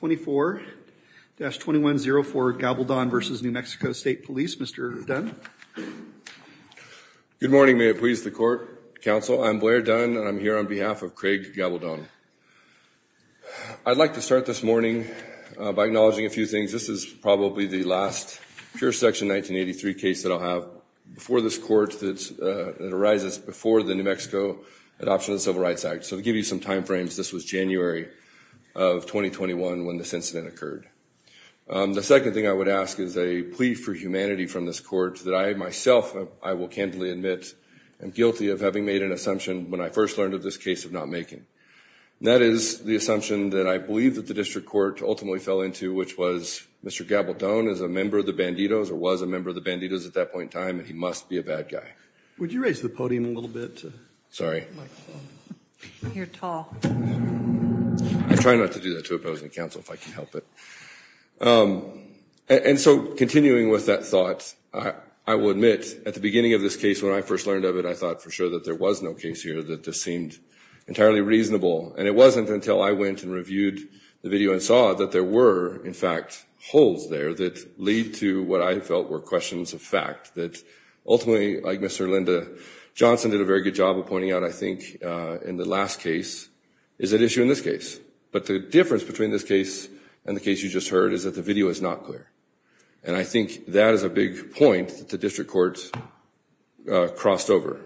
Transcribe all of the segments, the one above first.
24-2104 Gabaldon v. New Mexico State Police. Mr. Dunn. Good morning. May it please the court, counsel. I'm Blair Dunn. I'm here on behalf of Craig Gabaldon. I'd like to start this morning by acknowledging a few things. This is probably the last pure section 1983 case that I'll have before this court that arises before the New Mexico Adoption of Civil Rights Act. So to give you some timeframes, this was January of 2021 when this incident occurred. The second thing I would ask is a plea for humanity from this court that I myself, I will candidly admit, am guilty of having made an assumption when I first learned of this case of not making. That is the assumption that I believe that the district court ultimately fell into which was Mr. Gabaldon is a member of the Banditos or was a member of the Banditos at that point in time and he must be a bad guy. Would you raise the podium a little bit? Sorry. You're tall. I try not to do that to a opposing counsel if I can help it. And so continuing with that thought, I will admit at the beginning of this case when I first learned of it I thought for sure that there was no case here that this seemed entirely reasonable and it wasn't until I went and reviewed the video and saw that there were in fact holes there that lead to what I felt were questions of fact that ultimately like Mr. Linda Johnson did a very good job of pointing out I think in the last case is an issue in this case but the difference between this case and the case you just heard is that the video is not clear and I think that is a big point that the district court crossed over.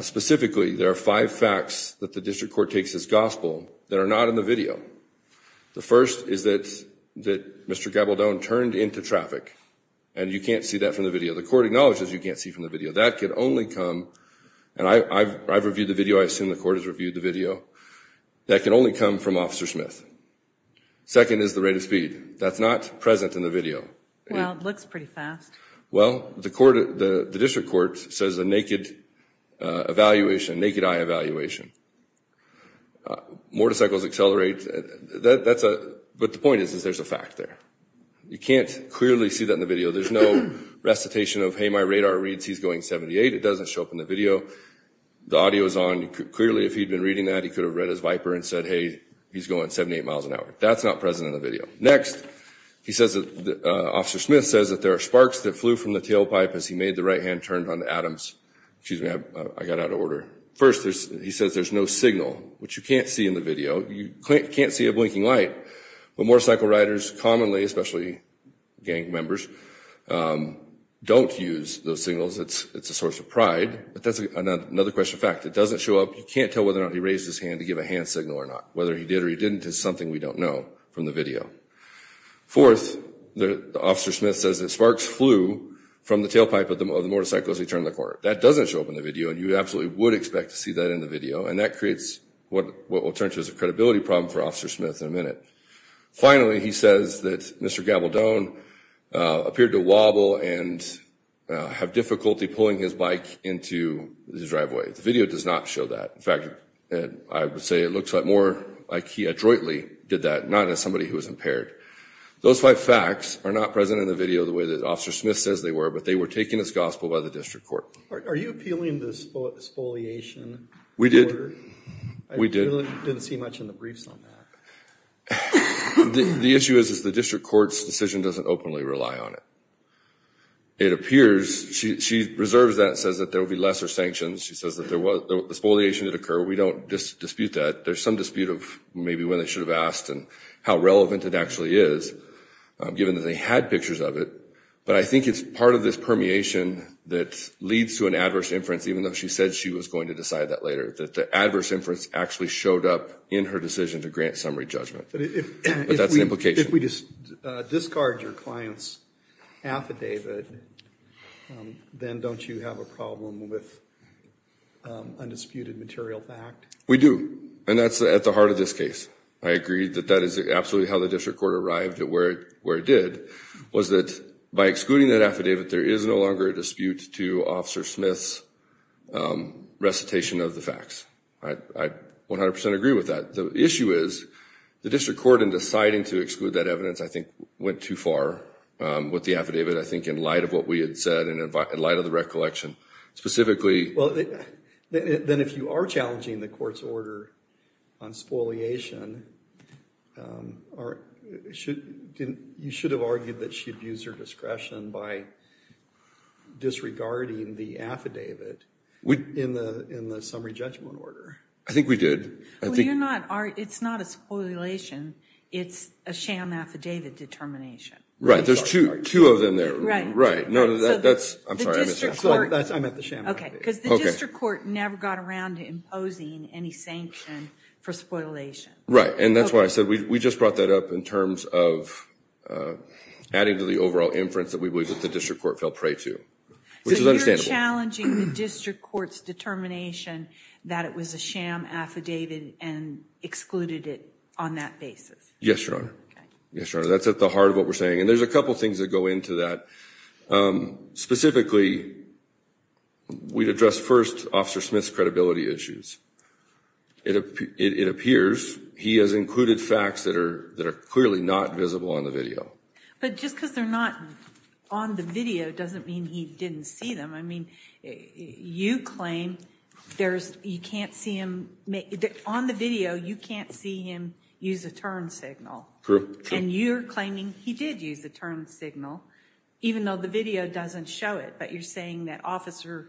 Specifically there are five facts that the district court takes as gospel that are not in the video. The first is that Mr. Gabaldon turned into traffic and you can't see that from the video. The court acknowledges you can't see from the video. That can only come and I've reviewed the video. I assume the court has reviewed the video. That can only come from Officer Smith. Second is the rate of speed. That's not present in the video. Well it looks pretty fast. Well the court, the district court says the naked evaluation, naked eye evaluation. Motorcycles accelerate. That's a, but the point is is there's a fact there. You can't clearly see that in the video. There's no recitation of hey my radar reads he's going 78. It doesn't show up in the video. The audio is on. Clearly if he'd been reading that he could have read his Viper and said hey he's going 78 miles an hour. That's not present in the video. Next he says that Officer Smith says that there are sparks that flew from the tailpipe as he made the right hand turned on Adams. Excuse me I got out of order. First there's he says there's no signal which you can't see in the video. You can't see a blinking light. But motorcycle riders commonly especially gang members don't use those signals. It's it's a source of pride but that's another question fact. It doesn't show up. You can't tell whether or not he raised his hand to give a hand signal or not. Whether he did or he didn't is something we don't know from the video. Fourth the Officer Smith says that sparks flew from the tailpipe of the motorcycles as he turned the corner. That doesn't show up in the video and you absolutely would expect to see that in the video and that creates what will turn to as a credibility problem for Officer Smith in a minute. Finally he says that Mr. Gabaldon appeared to wobble and have difficulty pulling his bike into the driveway. The video does not show that. In fact I would say it looks like more like he adroitly did that not as somebody who was impaired. Those five facts are not present in the video the way that Officer Smith says they were but they were taken as gospel by the We did. We did. I didn't see much in the briefs on that. The issue is the district court's decision doesn't openly rely on it. It appears she reserves that and says that there will be lesser sanctions. She says that there was a spoliation that occurred. We don't dispute that. There's some dispute of maybe when they should have asked and how relevant it actually is given that they had pictures of it but I think it's part of this permeation that leads to an adverse inference even though she said she was going to decide that later that the adverse inference actually showed up in her decision to grant summary judgment. But that's the implication. If we just discard your client's affidavit then don't you have a problem with undisputed material fact? We do and that's at the heart of this case. I agree that that is absolutely how the district court arrived at where it did was that by excluding that affidavit there is no longer a dispute to Officer Smith's recitation of the facts. I 100% agree with that. The issue is the district court in deciding to exclude that evidence I think went too far with the affidavit. I think in light of what we had said and in light of the recollection specifically. Well then if you are challenging the court's order on spoliation, you should have argued that she abused her discretion by disregarding the affidavit in the in the summary judgment order. I think we did. It's not a spoliation, it's a sham affidavit determination. Right, there's two of them there. Right, because the district court never got around to imposing any sanction for spoliation. Right, and that's why I just brought that up in terms of adding to the overall inference that we believe that the district court fell prey to. So you're challenging the district court's determination that it was a sham affidavit and excluded it on that basis? Yes, Your Honor. That's at the heart of what we're saying and there's a couple things that go into that. Specifically, we'd address first Officer Smith's credibility issues. It appears he has included facts that are that are clearly not visible on the video. But just because they're not on the video doesn't mean he didn't see them. I mean you claim there's you can't see him make it on the video you can't see him use a turn signal. True. And you're claiming he did use the turn signal even though the video doesn't show it but you're saying the officer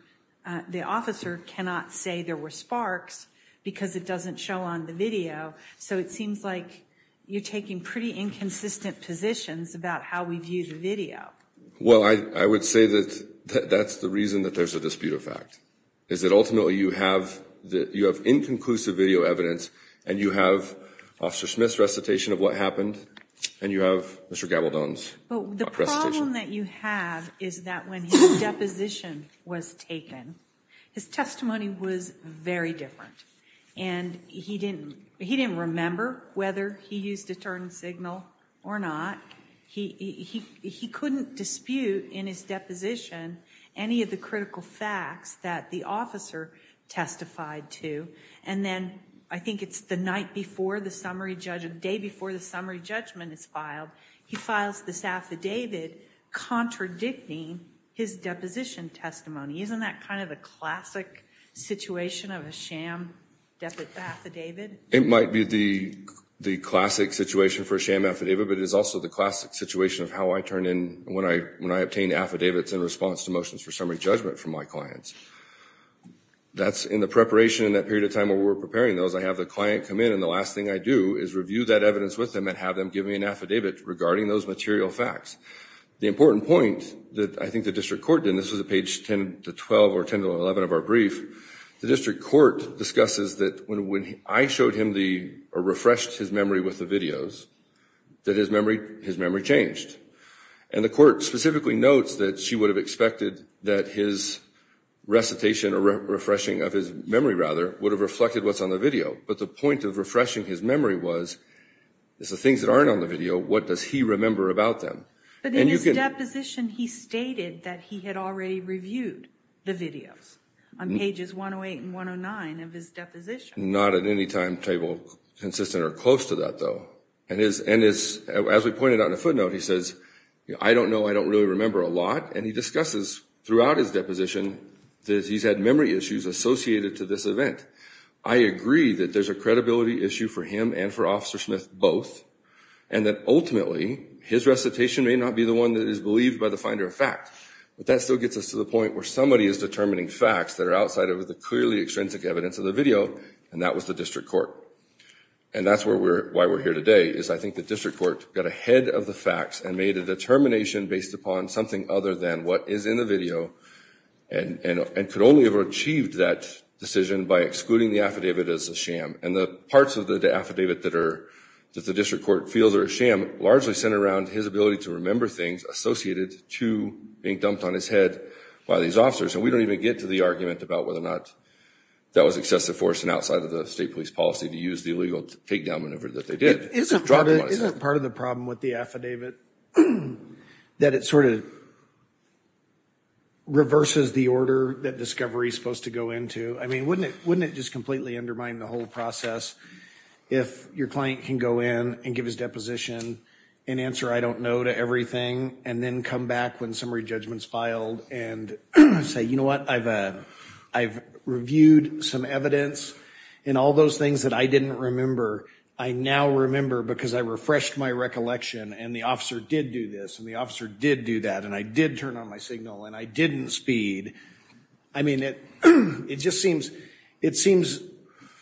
cannot say there were sparks because it doesn't show on the video. So it seems like you're taking pretty inconsistent positions about how we view the video. Well, I would say that that's the reason that there's a dispute of fact. Is that ultimately you have that you have inconclusive video evidence and you have Officer Smith's recitation of what happened and you have Mr. Gabaldon's recitation. But the problem that you have is that when his deposition was taken his testimony was very different and he didn't he didn't remember whether he used a turn signal or not. He couldn't dispute in his deposition any of the critical facts that the officer testified to and then I think it's the night before the summary judgment day before the summary judgment is filed he files this affidavit contradicting his deposition testimony. Isn't that kind of a classic situation of a sham affidavit? It might be the the classic situation for a sham affidavit but it is also the classic situation of how I turn in when I when I obtain affidavits in response to motions for summary judgment from my clients. That's in the preparation in that period of time where we're preparing those I have the client come in and the last thing I do is review that evidence with them and have them give me an affidavit regarding those material facts. The important point that I think the district court did this was a page 10 to 12 or 10 to 11 of our brief the district court discusses that when I showed him the refreshed his memory with the videos that his memory his memory changed and the court specifically notes that she would have expected that his recitation or refreshing of his memory rather would have reflected what's on the video but the point of refreshing his memory was is the things that aren't on the video what does he remember about them. But in his deposition he stated that he had already reviewed the videos on pages 108 and 109 of his deposition. Not at any time table consistent or close to that though and is and is as we pointed out in a footnote he says I don't know I don't really remember a lot and he throughout his deposition that he's had memory issues associated to this event I agree that there's a credibility issue for him and for officer Smith both and that ultimately his recitation may not be the one that is believed by the finder of fact but that still gets us to the point where somebody is determining facts that are outside of the clearly extrinsic evidence of the video and that was the district court and that's where we're why we're here today is I think the district court got ahead of the facts and made a determination based upon something other than what is in the video and and could only have achieved that decision by excluding the affidavit as a sham and the parts of the affidavit that are that the district court feels are a sham largely centered around his ability to remember things associated to being dumped on his head by these officers and we don't even get to the argument about whether or not that was excessive force and outside of the state police policy to use the illegal takedown maneuver that they did. Isn't part of the problem with the affidavit that it sort of reverses the order that discovery is supposed to go into I mean wouldn't it wouldn't it just completely undermine the whole process if your client can go in and give his deposition and answer I don't know to everything and then come back when summary judgments filed and say you know what I've I've reviewed some evidence and all those things that I didn't remember I now remember because I refreshed my recollection and the officer did do this and the officer did do that and I did turn on my signal and I didn't speed I mean it it just seems it seems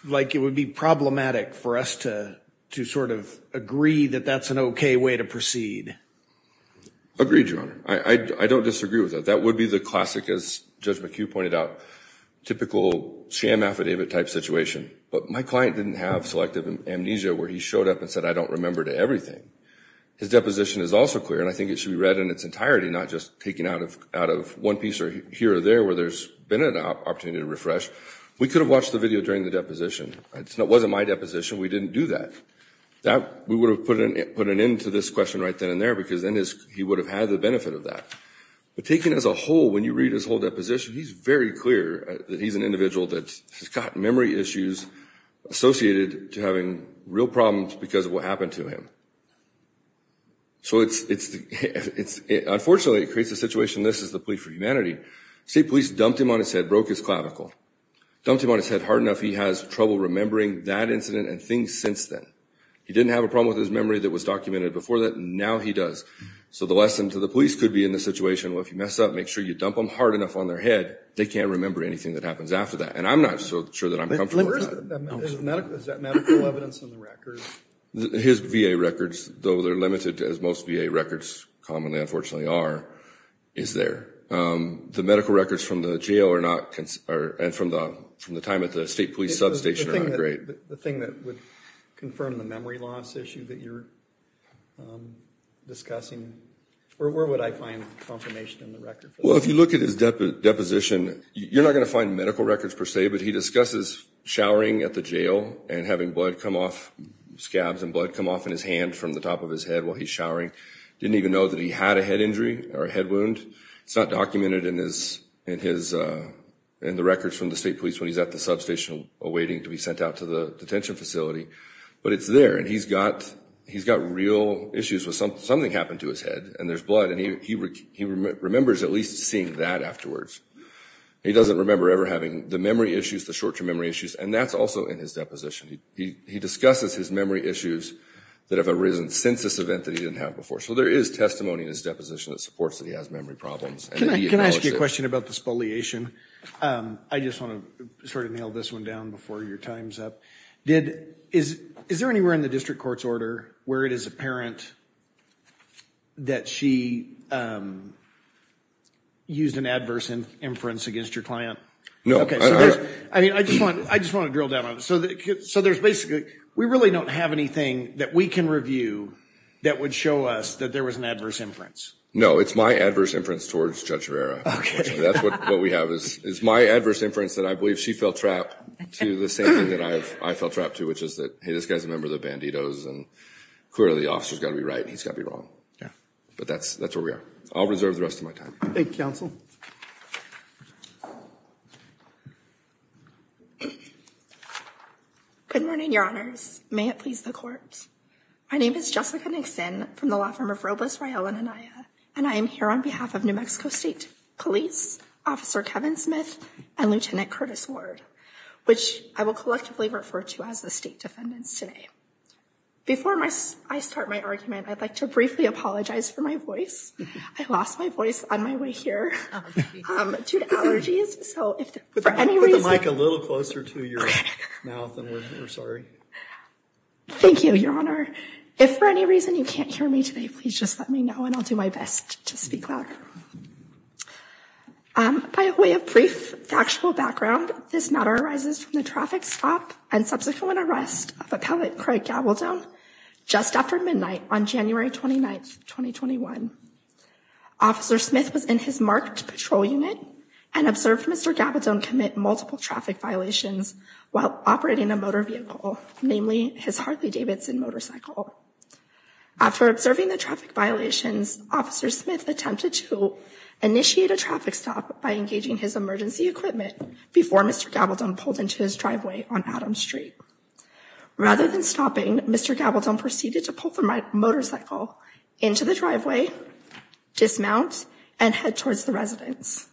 like it would be problematic for us to to sort of agree that that's an okay way to proceed. Agreed your honor I don't disagree with that that would be the classic as Judge McHugh pointed out typical sham affidavit type situation but my client didn't have selective amnesia where he showed up and said I don't remember to everything his deposition is also clear and I think it should be read in its entirety not just taking out of out of one piece or here or there where there's been an opportunity to refresh we could have watched the video during the deposition it's not wasn't my deposition we didn't do that that we would have put in it put an end to this question right then and there because then is he would have had the benefit of that but taking as a whole when you read his whole deposition he's very clear that he's an individual that's got memory issues associated to having real problems because of what happened to him so it's it's it's unfortunately it creates a situation this is the plea for humanity state police dumped him on his head broke his clavicle dumped him on his head hard enough he has trouble remembering that incident and things since then he didn't have a problem with his memory that was documented before that now he does so the lesson to the police could be in this situation well if you mess up make sure you dump them hard enough on their head they can't remember anything that happens after that and I'm not so sure that I'm his VA records though they're limited as most VA records commonly unfortunately are is there the medical records from the jail or not can or and from the from the time at the state police substation great the thing that would confirm the memory loss issue that you're discussing or where would I find confirmation in the record well if you look at his depth of deposition you're not gonna find medical records per se but he discusses showering at the jail and having blood come off scabs and blood come off in his hand from the top of his head while he's showering didn't even know that he had a head injury or a head wound it's not documented in this in his and the records from the state police when he's at the substation awaiting to be sent out to the detention facility but it's there and he's got he's got real issues with something something happened to his head and there's blood and he remembers at least seeing that afterwards he doesn't remember ever having the memory issues the short-term memory issues and that's also in his deposition he discusses his memory issues that have arisen since this event that he didn't have before so there is testimony in his deposition that supports that he has memory problems can I ask you a question about the spoliation I just want to sort of nail this one down before your times up did is is there anywhere in the district court's order where it is apparent that she used an adverse and inference against your client no I mean I just want I just want to drill down on so that so there's basically we really don't have anything that we can review that would show us that there was an adverse inference no it's my adverse inference towards judge Rivera okay that's what what we have is is my adverse inference that I believe she felt trapped to the same thing that I have I felt trapped to which is that hey this guy's a member of the banditos and clearly the officer's got to be right he's got me wrong yeah but that's that's where we are I'll reserve the rest of my time I think counsel good morning your honors may it please the courts my name is Jessica Nixon from the law firm of Robles Rayel and Anaya and I am here on behalf of New Mexico State Police Officer Kevin Smith and Lieutenant Curtis Ward which I will collectively refer to as the state defendants today before my I start my argument I'd like to briefly apologize for my voice I lost my voice on my way here to the allergies so if for any reason like a little closer to your mouth and we're sorry thank you your honor if for any reason you can't hear me today please just let me know and I'll do my best to speak back by way of brief factual background this matter arises from the traffic stop and subsequent arrest of a pellet Craig Gabaldon just after midnight on January 29th 2021 officer Smith was in his marked patrol unit and observed mr. Gabaldon commit multiple traffic violations while operating a motor vehicle namely his Harley-Davidson motorcycle after observing the traffic violations officer Smith attempted to initiate a traffic stop by engaging his emergency equipment before mr. Gabaldon pulled into his driveway on Adams Street rather than stopping mr. Gabaldon proceeded to pull from my motorcycle into the driveway dismount and head towards the residence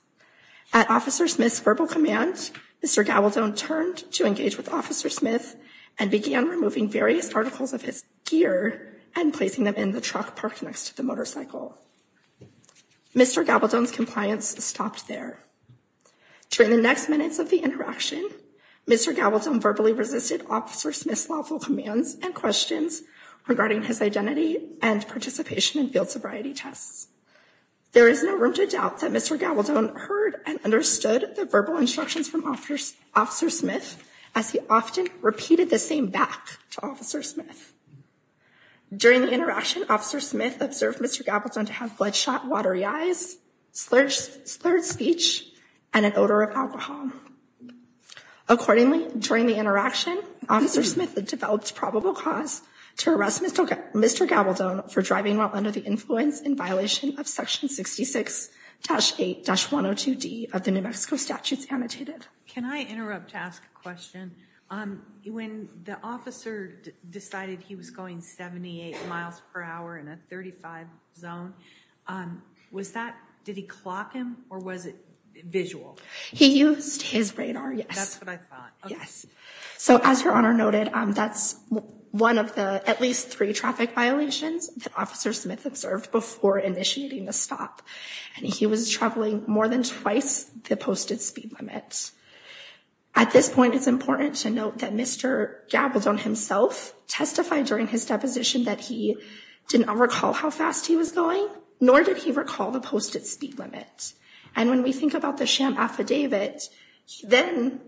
at officer Smith's verbal command mr. Gabaldon turned to engage with officer Smith and began removing various articles of his gear and placing them in the truck parked next to the motorcycle mr. Gabaldon's compliance stopped there during the next minutes of the interaction mr. Gabaldon verbally resisted officer Smith's lawful commands and questions regarding his identity and participation in field sobriety tests there is no room to doubt that mr. Gabaldon heard and understood the verbal instructions from officers officer Smith as he often repeated the same back to officer Smith during the interaction officer Smith observed mr. Gabaldon to have bloodshot watery eyes slurs slurred speech and an odor of alcohol accordingly during the interaction officer Smith had developed probable cause to arrest mr. Gabaldon for driving while under the influence in violation of section 66-8-102 D of the New Mexico statutes annotated can I interrupt to ask a question when the officer decided he was going 78 miles per hour in a 35 zone was that did he clock him or was it visual he used his radar yes so as your honor noted that's one of the at least three traffic violations that officer Smith observed before initiating the stop and he was traveling more than twice the posted speed limits at this point it's important to note that mr. Gabaldon himself testified during his deposition that he did not recall how fast he was going nor did he recall the posted speed limits and when we think about the sham affidavit then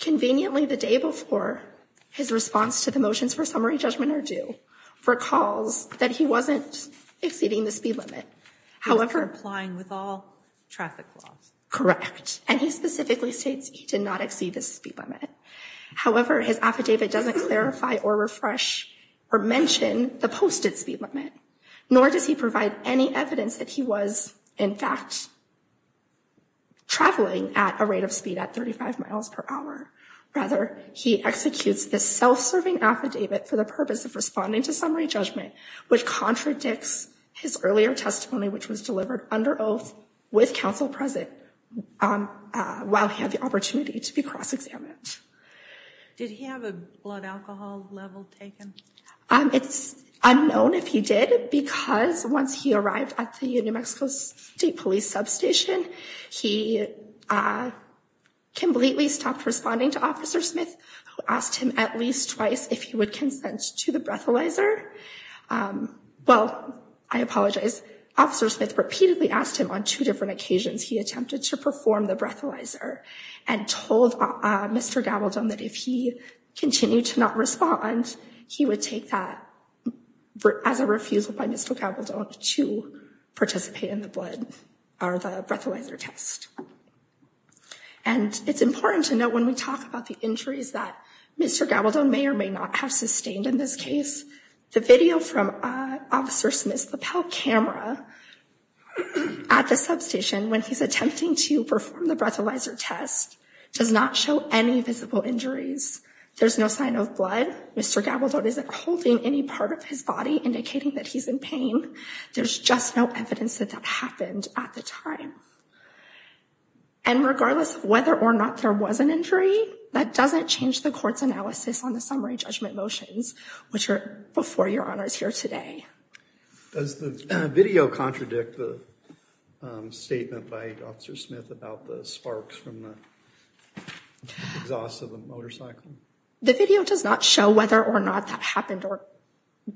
conveniently the day before his response to the motions for summary judgment or do for calls that he wasn't exceeding the speed limit however applying with all traffic laws correct and he specifically states he did not exceed the speed limit however his affidavit doesn't clarify or refresh or mention the posted speed limit nor does he provide any evidence that he was in fact traveling at a rate of speed at 35 miles per hour rather he executes the self-serving affidavit for the purpose of responding to summary judgment which contradicts his earlier testimony which was delivered under oath with counsel present while he had the opportunity to be cross-examined did he have a blood alcohol level taken it's unknown if he did because once he arrived at the New Mexico State Police substation he completely stopped responding to officer Smith who asked him at least twice if he would consent to the breathalyzer well I apologize officer Smith repeatedly asked him on two different occasions he attempted to perform the breathalyzer and told Mr. Gabaldon that if he continued to not respond he would take that as a refusal by Mr. Gabaldon to participate in the blood or the breathalyzer test and it's important to note when we talk about the injuries that Mr. Gabaldon may or may have sustained in this case the video from officer Smith's lapel camera at the substation when he's attempting to perform the breathalyzer test does not show any visible injuries there's no sign of blood Mr. Gabaldon isn't holding any part of his body indicating that he's in pain there's just no evidence that that happened at the time and regardless of whether or not there was an injury that doesn't change the court's analysis on the summary judgment motions which are before your honors here today. Does the video contradict the statement by officer Smith about the sparks from the exhaust of a motorcycle? The video does not show whether or not that happened or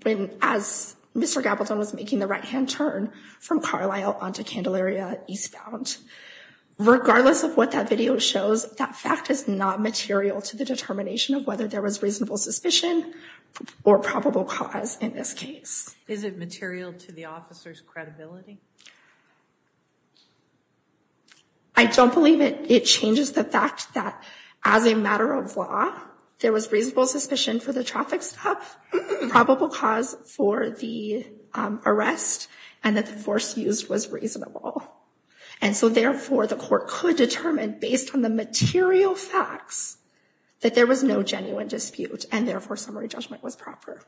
when as Mr. Gabaldon was making the right-hand turn from Carlisle onto Candelaria eastbound. Regardless of what that video shows that fact is not material to the determination of whether there was reasonable suspicion or probable cause in this case. Is it material to the officers credibility? I don't believe it it changes the fact that as a matter of law there was reasonable suspicion for the traffic stop probable cause for the arrest and that the force used was reasonable and so therefore the court could determine based on the material facts that there was no genuine dispute and therefore summary judgment was proper.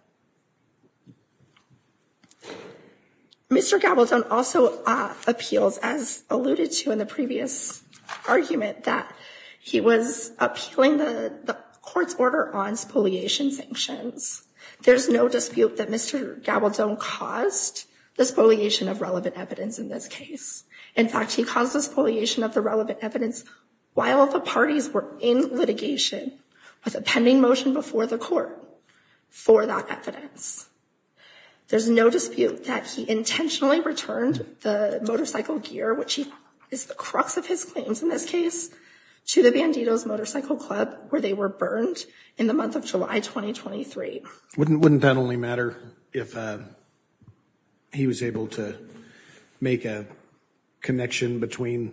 Mr. Gabaldon also appeals as alluded to in the previous argument that he was appealing the court's order on spoliation sanctions. There's no dispute that Mr. Gabaldon caused the spoliation of relevant evidence in this case. In fact he caused the spoliation of the relevant evidence while the parties were in litigation with a pending motion before the court for that evidence. There's no dispute that he intentionally returned the motorcycle gear which he is the crux of his claims in this case to the Bandidos Motorcycle Club where they were burned in the month of July 2023. Wouldn't that only matter if he was able to make a connection between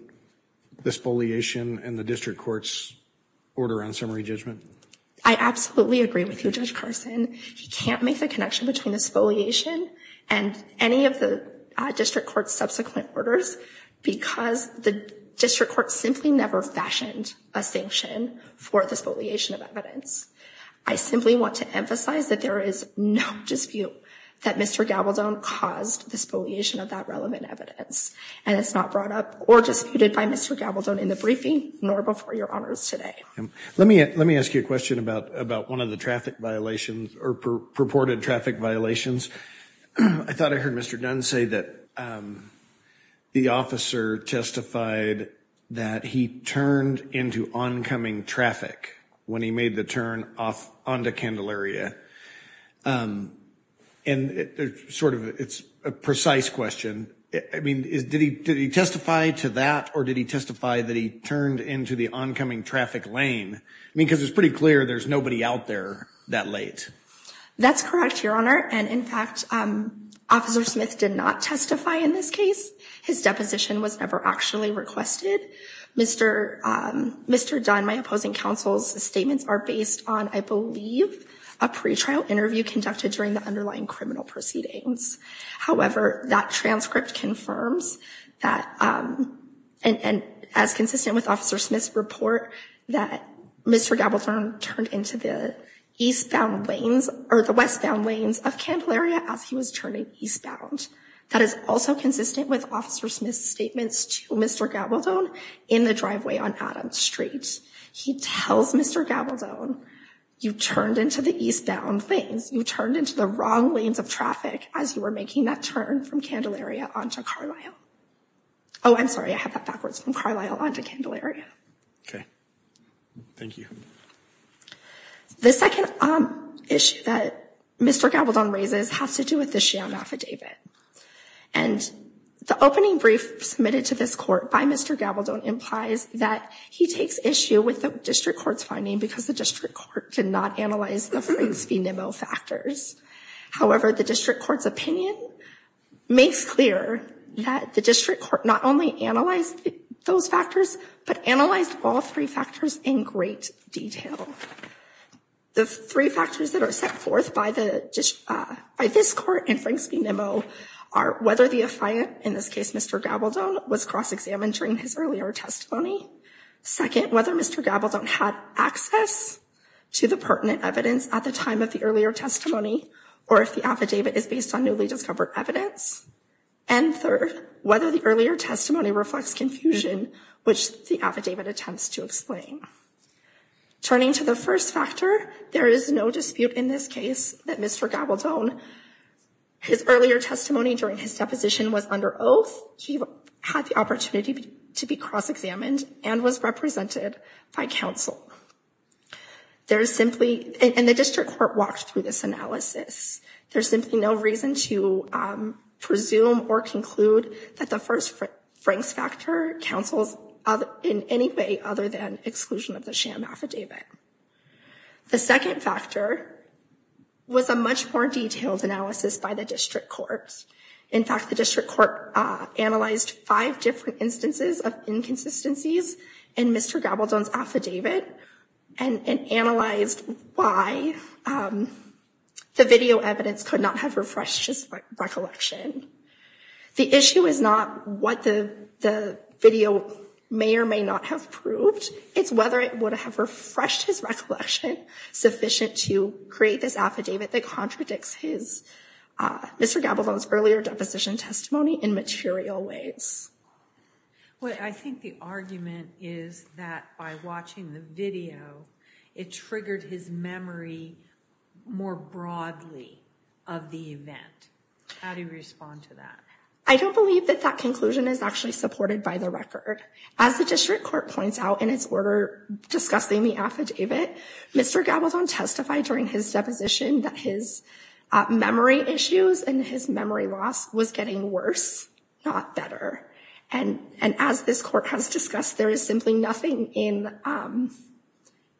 the spoliation and the district court's order on summary judgment? I absolutely agree with you Judge Carson. He can't make the connection between the spoliation and any of the district court's subsequent orders because the district court simply never fashioned a sanction for the spoliation of evidence. I simply want to emphasize that there is no dispute that Mr. Gabaldon caused the spoliation of that relevant evidence and it's not brought up or disputed by Mr. Gabaldon in the briefing nor before your honors today. Let me let me ask you a question about about one of the traffic violations or purported traffic violations. I thought I heard Mr. Dunn say that the officer testified that he turned into oncoming traffic when he turned off onto Candelaria and it's sort of it's a precise question. I mean did he testify to that or did he testify that he turned into the oncoming traffic lane? I mean because it's pretty clear there's nobody out there that late. That's correct your honor and in fact officer Smith did not testify in this case. His deposition was never actually requested. Mr. Dunn, my opposing counsel's statements are based on I believe a pretrial interview conducted during the underlying criminal proceedings. However, that transcript confirms that and as consistent with officer Smith's report that Mr. Gabaldon turned into the eastbound lanes or the westbound lanes of Candelaria as he was turning eastbound. That is also consistent with officer Smith's statements to Mr. Gabaldon in the driveway on Adams Street. He tells Mr. Gabaldon you turned into the eastbound things. You turned into the wrong lanes of traffic as you were making that turn from Candelaria onto Carlisle. Oh I'm sorry I have that backwards from Carlisle onto Candelaria. Okay thank you. The second issue that Mr. Gabaldon raises has to do with the sham affidavit and the opening brief submitted to this court by Mr. Gabaldon implies that he takes issue with the district court's finding because the district court did not analyze the Franks v. Nimmo factors. However, the district court's opinion makes clear that the district court not only analyzed those factors but analyzed all three factors in great detail. The three factors that are set forth by the by this court in Franks v. Nimmo are whether the affiant, in this case Mr. Gabaldon, was cross-examined during his earlier testimony. Second, whether Mr. Gabaldon had access to the pertinent evidence at the time of the earlier testimony or if the affidavit is based on newly discovered evidence. And third, whether the earlier testimony reflects confusion which the affidavit attempts to explain. Turning to the first factor, there is no dispute in this case that Mr. Gabaldon, his earlier testimony during his deposition was under oath. He had the opportunity to be cross-examined and was represented by counsel. There is simply, and the district court walked through this analysis, there's simply no reason to presume or conclude that the first Franks factor counsels in any way other than exclusion of the sham affidavit. The second factor was a much more detailed analysis by the district courts. In fact, the district court analyzed five different instances of inconsistencies in Mr. Gabaldon's affidavit and analyzed why the video evidence could not have refreshed his recollection. The issue is not what the video may or may not have proved, it's whether it would have refreshed his recollection sufficient to create this affidavit that contradicts his, Mr. Gabaldon's earlier deposition testimony in material ways. What I think the argument is that by watching the video, it triggered his memory more broadly of the event. How do you respond to that? I don't believe that that conclusion is actually supported by the record. As the district court points out in its order discussing the affidavit, Mr. Gabaldon testified during his deposition that his memory issues and his memory loss was getting worse, not better. And as this court has discussed, there is simply nothing in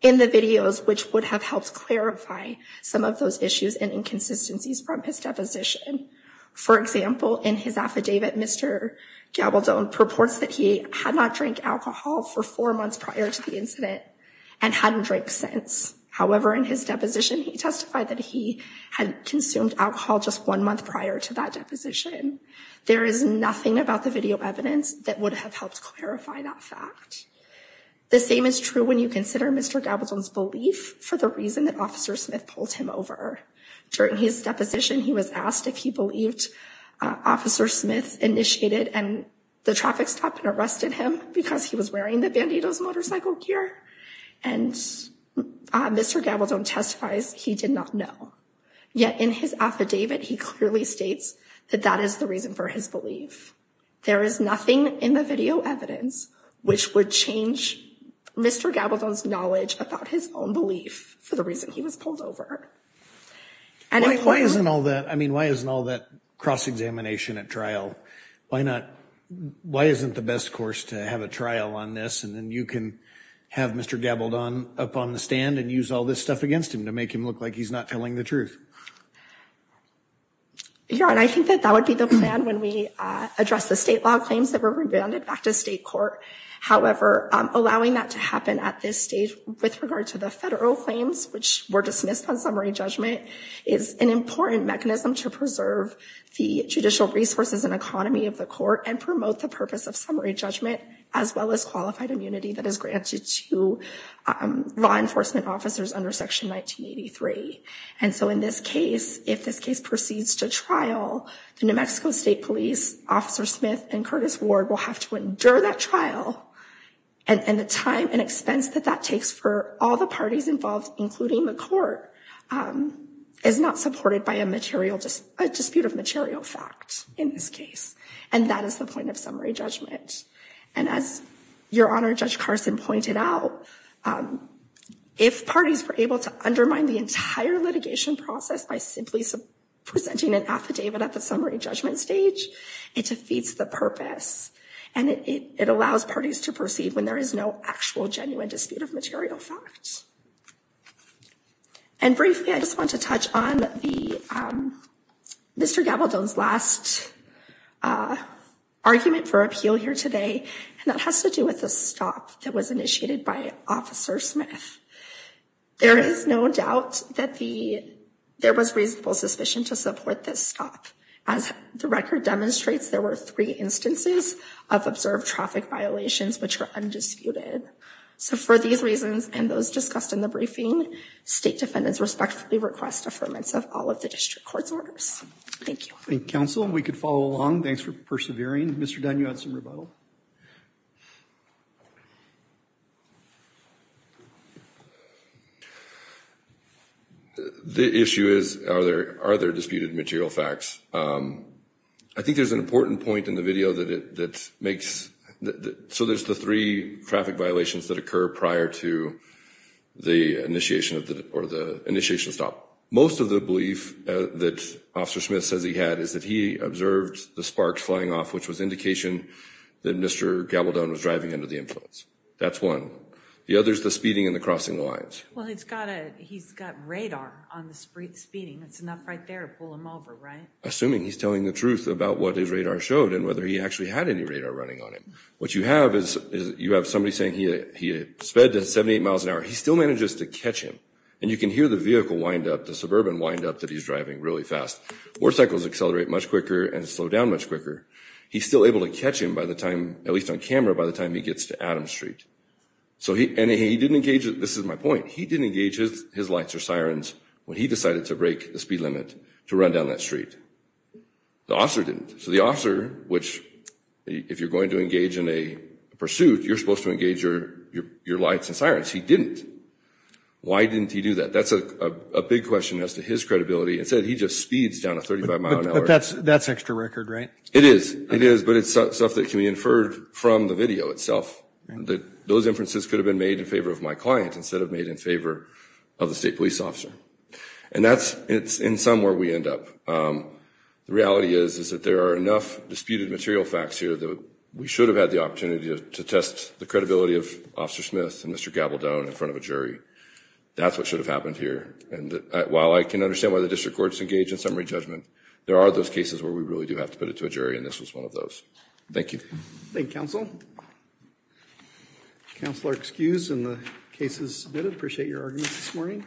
the videos which would have helped clarify some of those issues and inconsistencies from his deposition. For example, in his affidavit, Mr. Gabaldon purports that he had not drank alcohol for four months prior to the incident and hadn't drank since. However, in his deposition, he testified that he had consumed alcohol just one month prior to that deposition. There is nothing about the video evidence that would have helped clarify that fact. The same is true when you consider Mr. Gabaldon's belief for the reason that Officer Smith pulled him over. During his deposition, he was asked if he believed Officer Smith initiated and the traffic stop and arrested him because he was wearing the motorcycle gear. And Mr. Gabaldon testifies he did not know. Yet in his affidavit, he clearly states that that is the reason for his belief. There is nothing in the video evidence which would change Mr. Gabaldon's knowledge about his own belief for the reason he was pulled over. And why isn't all that, I mean, why isn't all that cross-examination at trial? Why not, why isn't the best course to have a trial on this and then you can have Mr. Gabaldon up on the stand and use all this stuff against him to make him look like he's not telling the truth? Your Honor, I think that that would be the plan when we address the state law claims that were rebounded back to state court. However, allowing that to happen at this stage with regard to the federal claims which were dismissed on summary judgment is an important mechanism to preserve the judicial resources and economy of the court and promote the purpose of summary judgment as well as qualified immunity that is granted to law enforcement officers under Section 1983. And so in this case, if this case proceeds to trial, the New Mexico State Police, Officer Smith, and Curtis Ward will have to endure that trial. And the time and expense that that takes for all the parties involved, including the court, is not supported by a dispute of material fact in this case. And that is the point of summary judgment. And as Your Honor, Judge Carson pointed out, if parties were able to undermine the entire litigation process by simply presenting an affidavit at the summary judgment stage, it defeats the purpose and it allows parties to proceed when there is no actual genuine dispute of material facts. And briefly, I just want to touch on Mr. Gabaldon's last argument for appeal here today. And that has to do with the stop that was initiated by Officer Smith. There is no doubt that there was reasonable suspicion to support this stop. As the record demonstrates, there were three instances of observed traffic violations which were undisputed. So for these reasons and those discussed in the last affirmance of all of the district court's orders. Thank you. Thank you, counsel. We could follow along. Thanks for persevering. Mr. Dunn, you had some rebuttal. The issue is, are there disputed material facts? I think there's an important point in the video that makes, so there's the three traffic violations that occur prior to the initiation of the, or the initiation of the stop. Most of the belief that Officer Smith says he had is that he observed the sparks flying off, which was indication that Mr. Gabaldon was driving under the influence. That's one. The other is the speeding and the crossing lines. Well, he's got a, he's got radar on the speeding. That's enough right there to pull him over, right? Assuming he's telling the truth about what his radar showed and whether he actually had any radar running on him. What you have is, you have somebody saying he sped to 78 miles an hour. He still manages to catch him. And you can hear the vehicle wind up, the suburban wind up that he's driving really fast. Motorcycles accelerate much quicker and slow down much quicker. He's still able to catch him by the time, at least on camera, by the time he gets to Adams Street. So he, and he didn't engage, this is my point, he didn't engage his lights or sirens when he decided to break the speed limit to run down that street. The officer didn't. So the officer, which, if you're going to engage in a pursuit, you're supposed to engage your lights and sirens. He didn't. Why didn't he do that? That's a big question as to his credibility. Instead, he just speeds down to 35 miles an hour. But that's, that's extra record, right? It is. It is. But it's stuff that can be inferred from the video itself. That those inferences could have been made in favor of my client instead of made in favor of the state police officer. And that's, it's in some where we end up. The reality is, is that there are enough disputed material facts here that we should have had the opportunity to test the credibility of Officer Smith and Mr. Gabaldon in front of a jury. That's what should have happened here. And while I can understand why the district courts engage in summary judgment, there are those cases where we really do have to put it to a jury and this was one of those. Thank you. Thank you, counsel. Counselor, excused and the case is submitted. Appreciate your arguments this morning.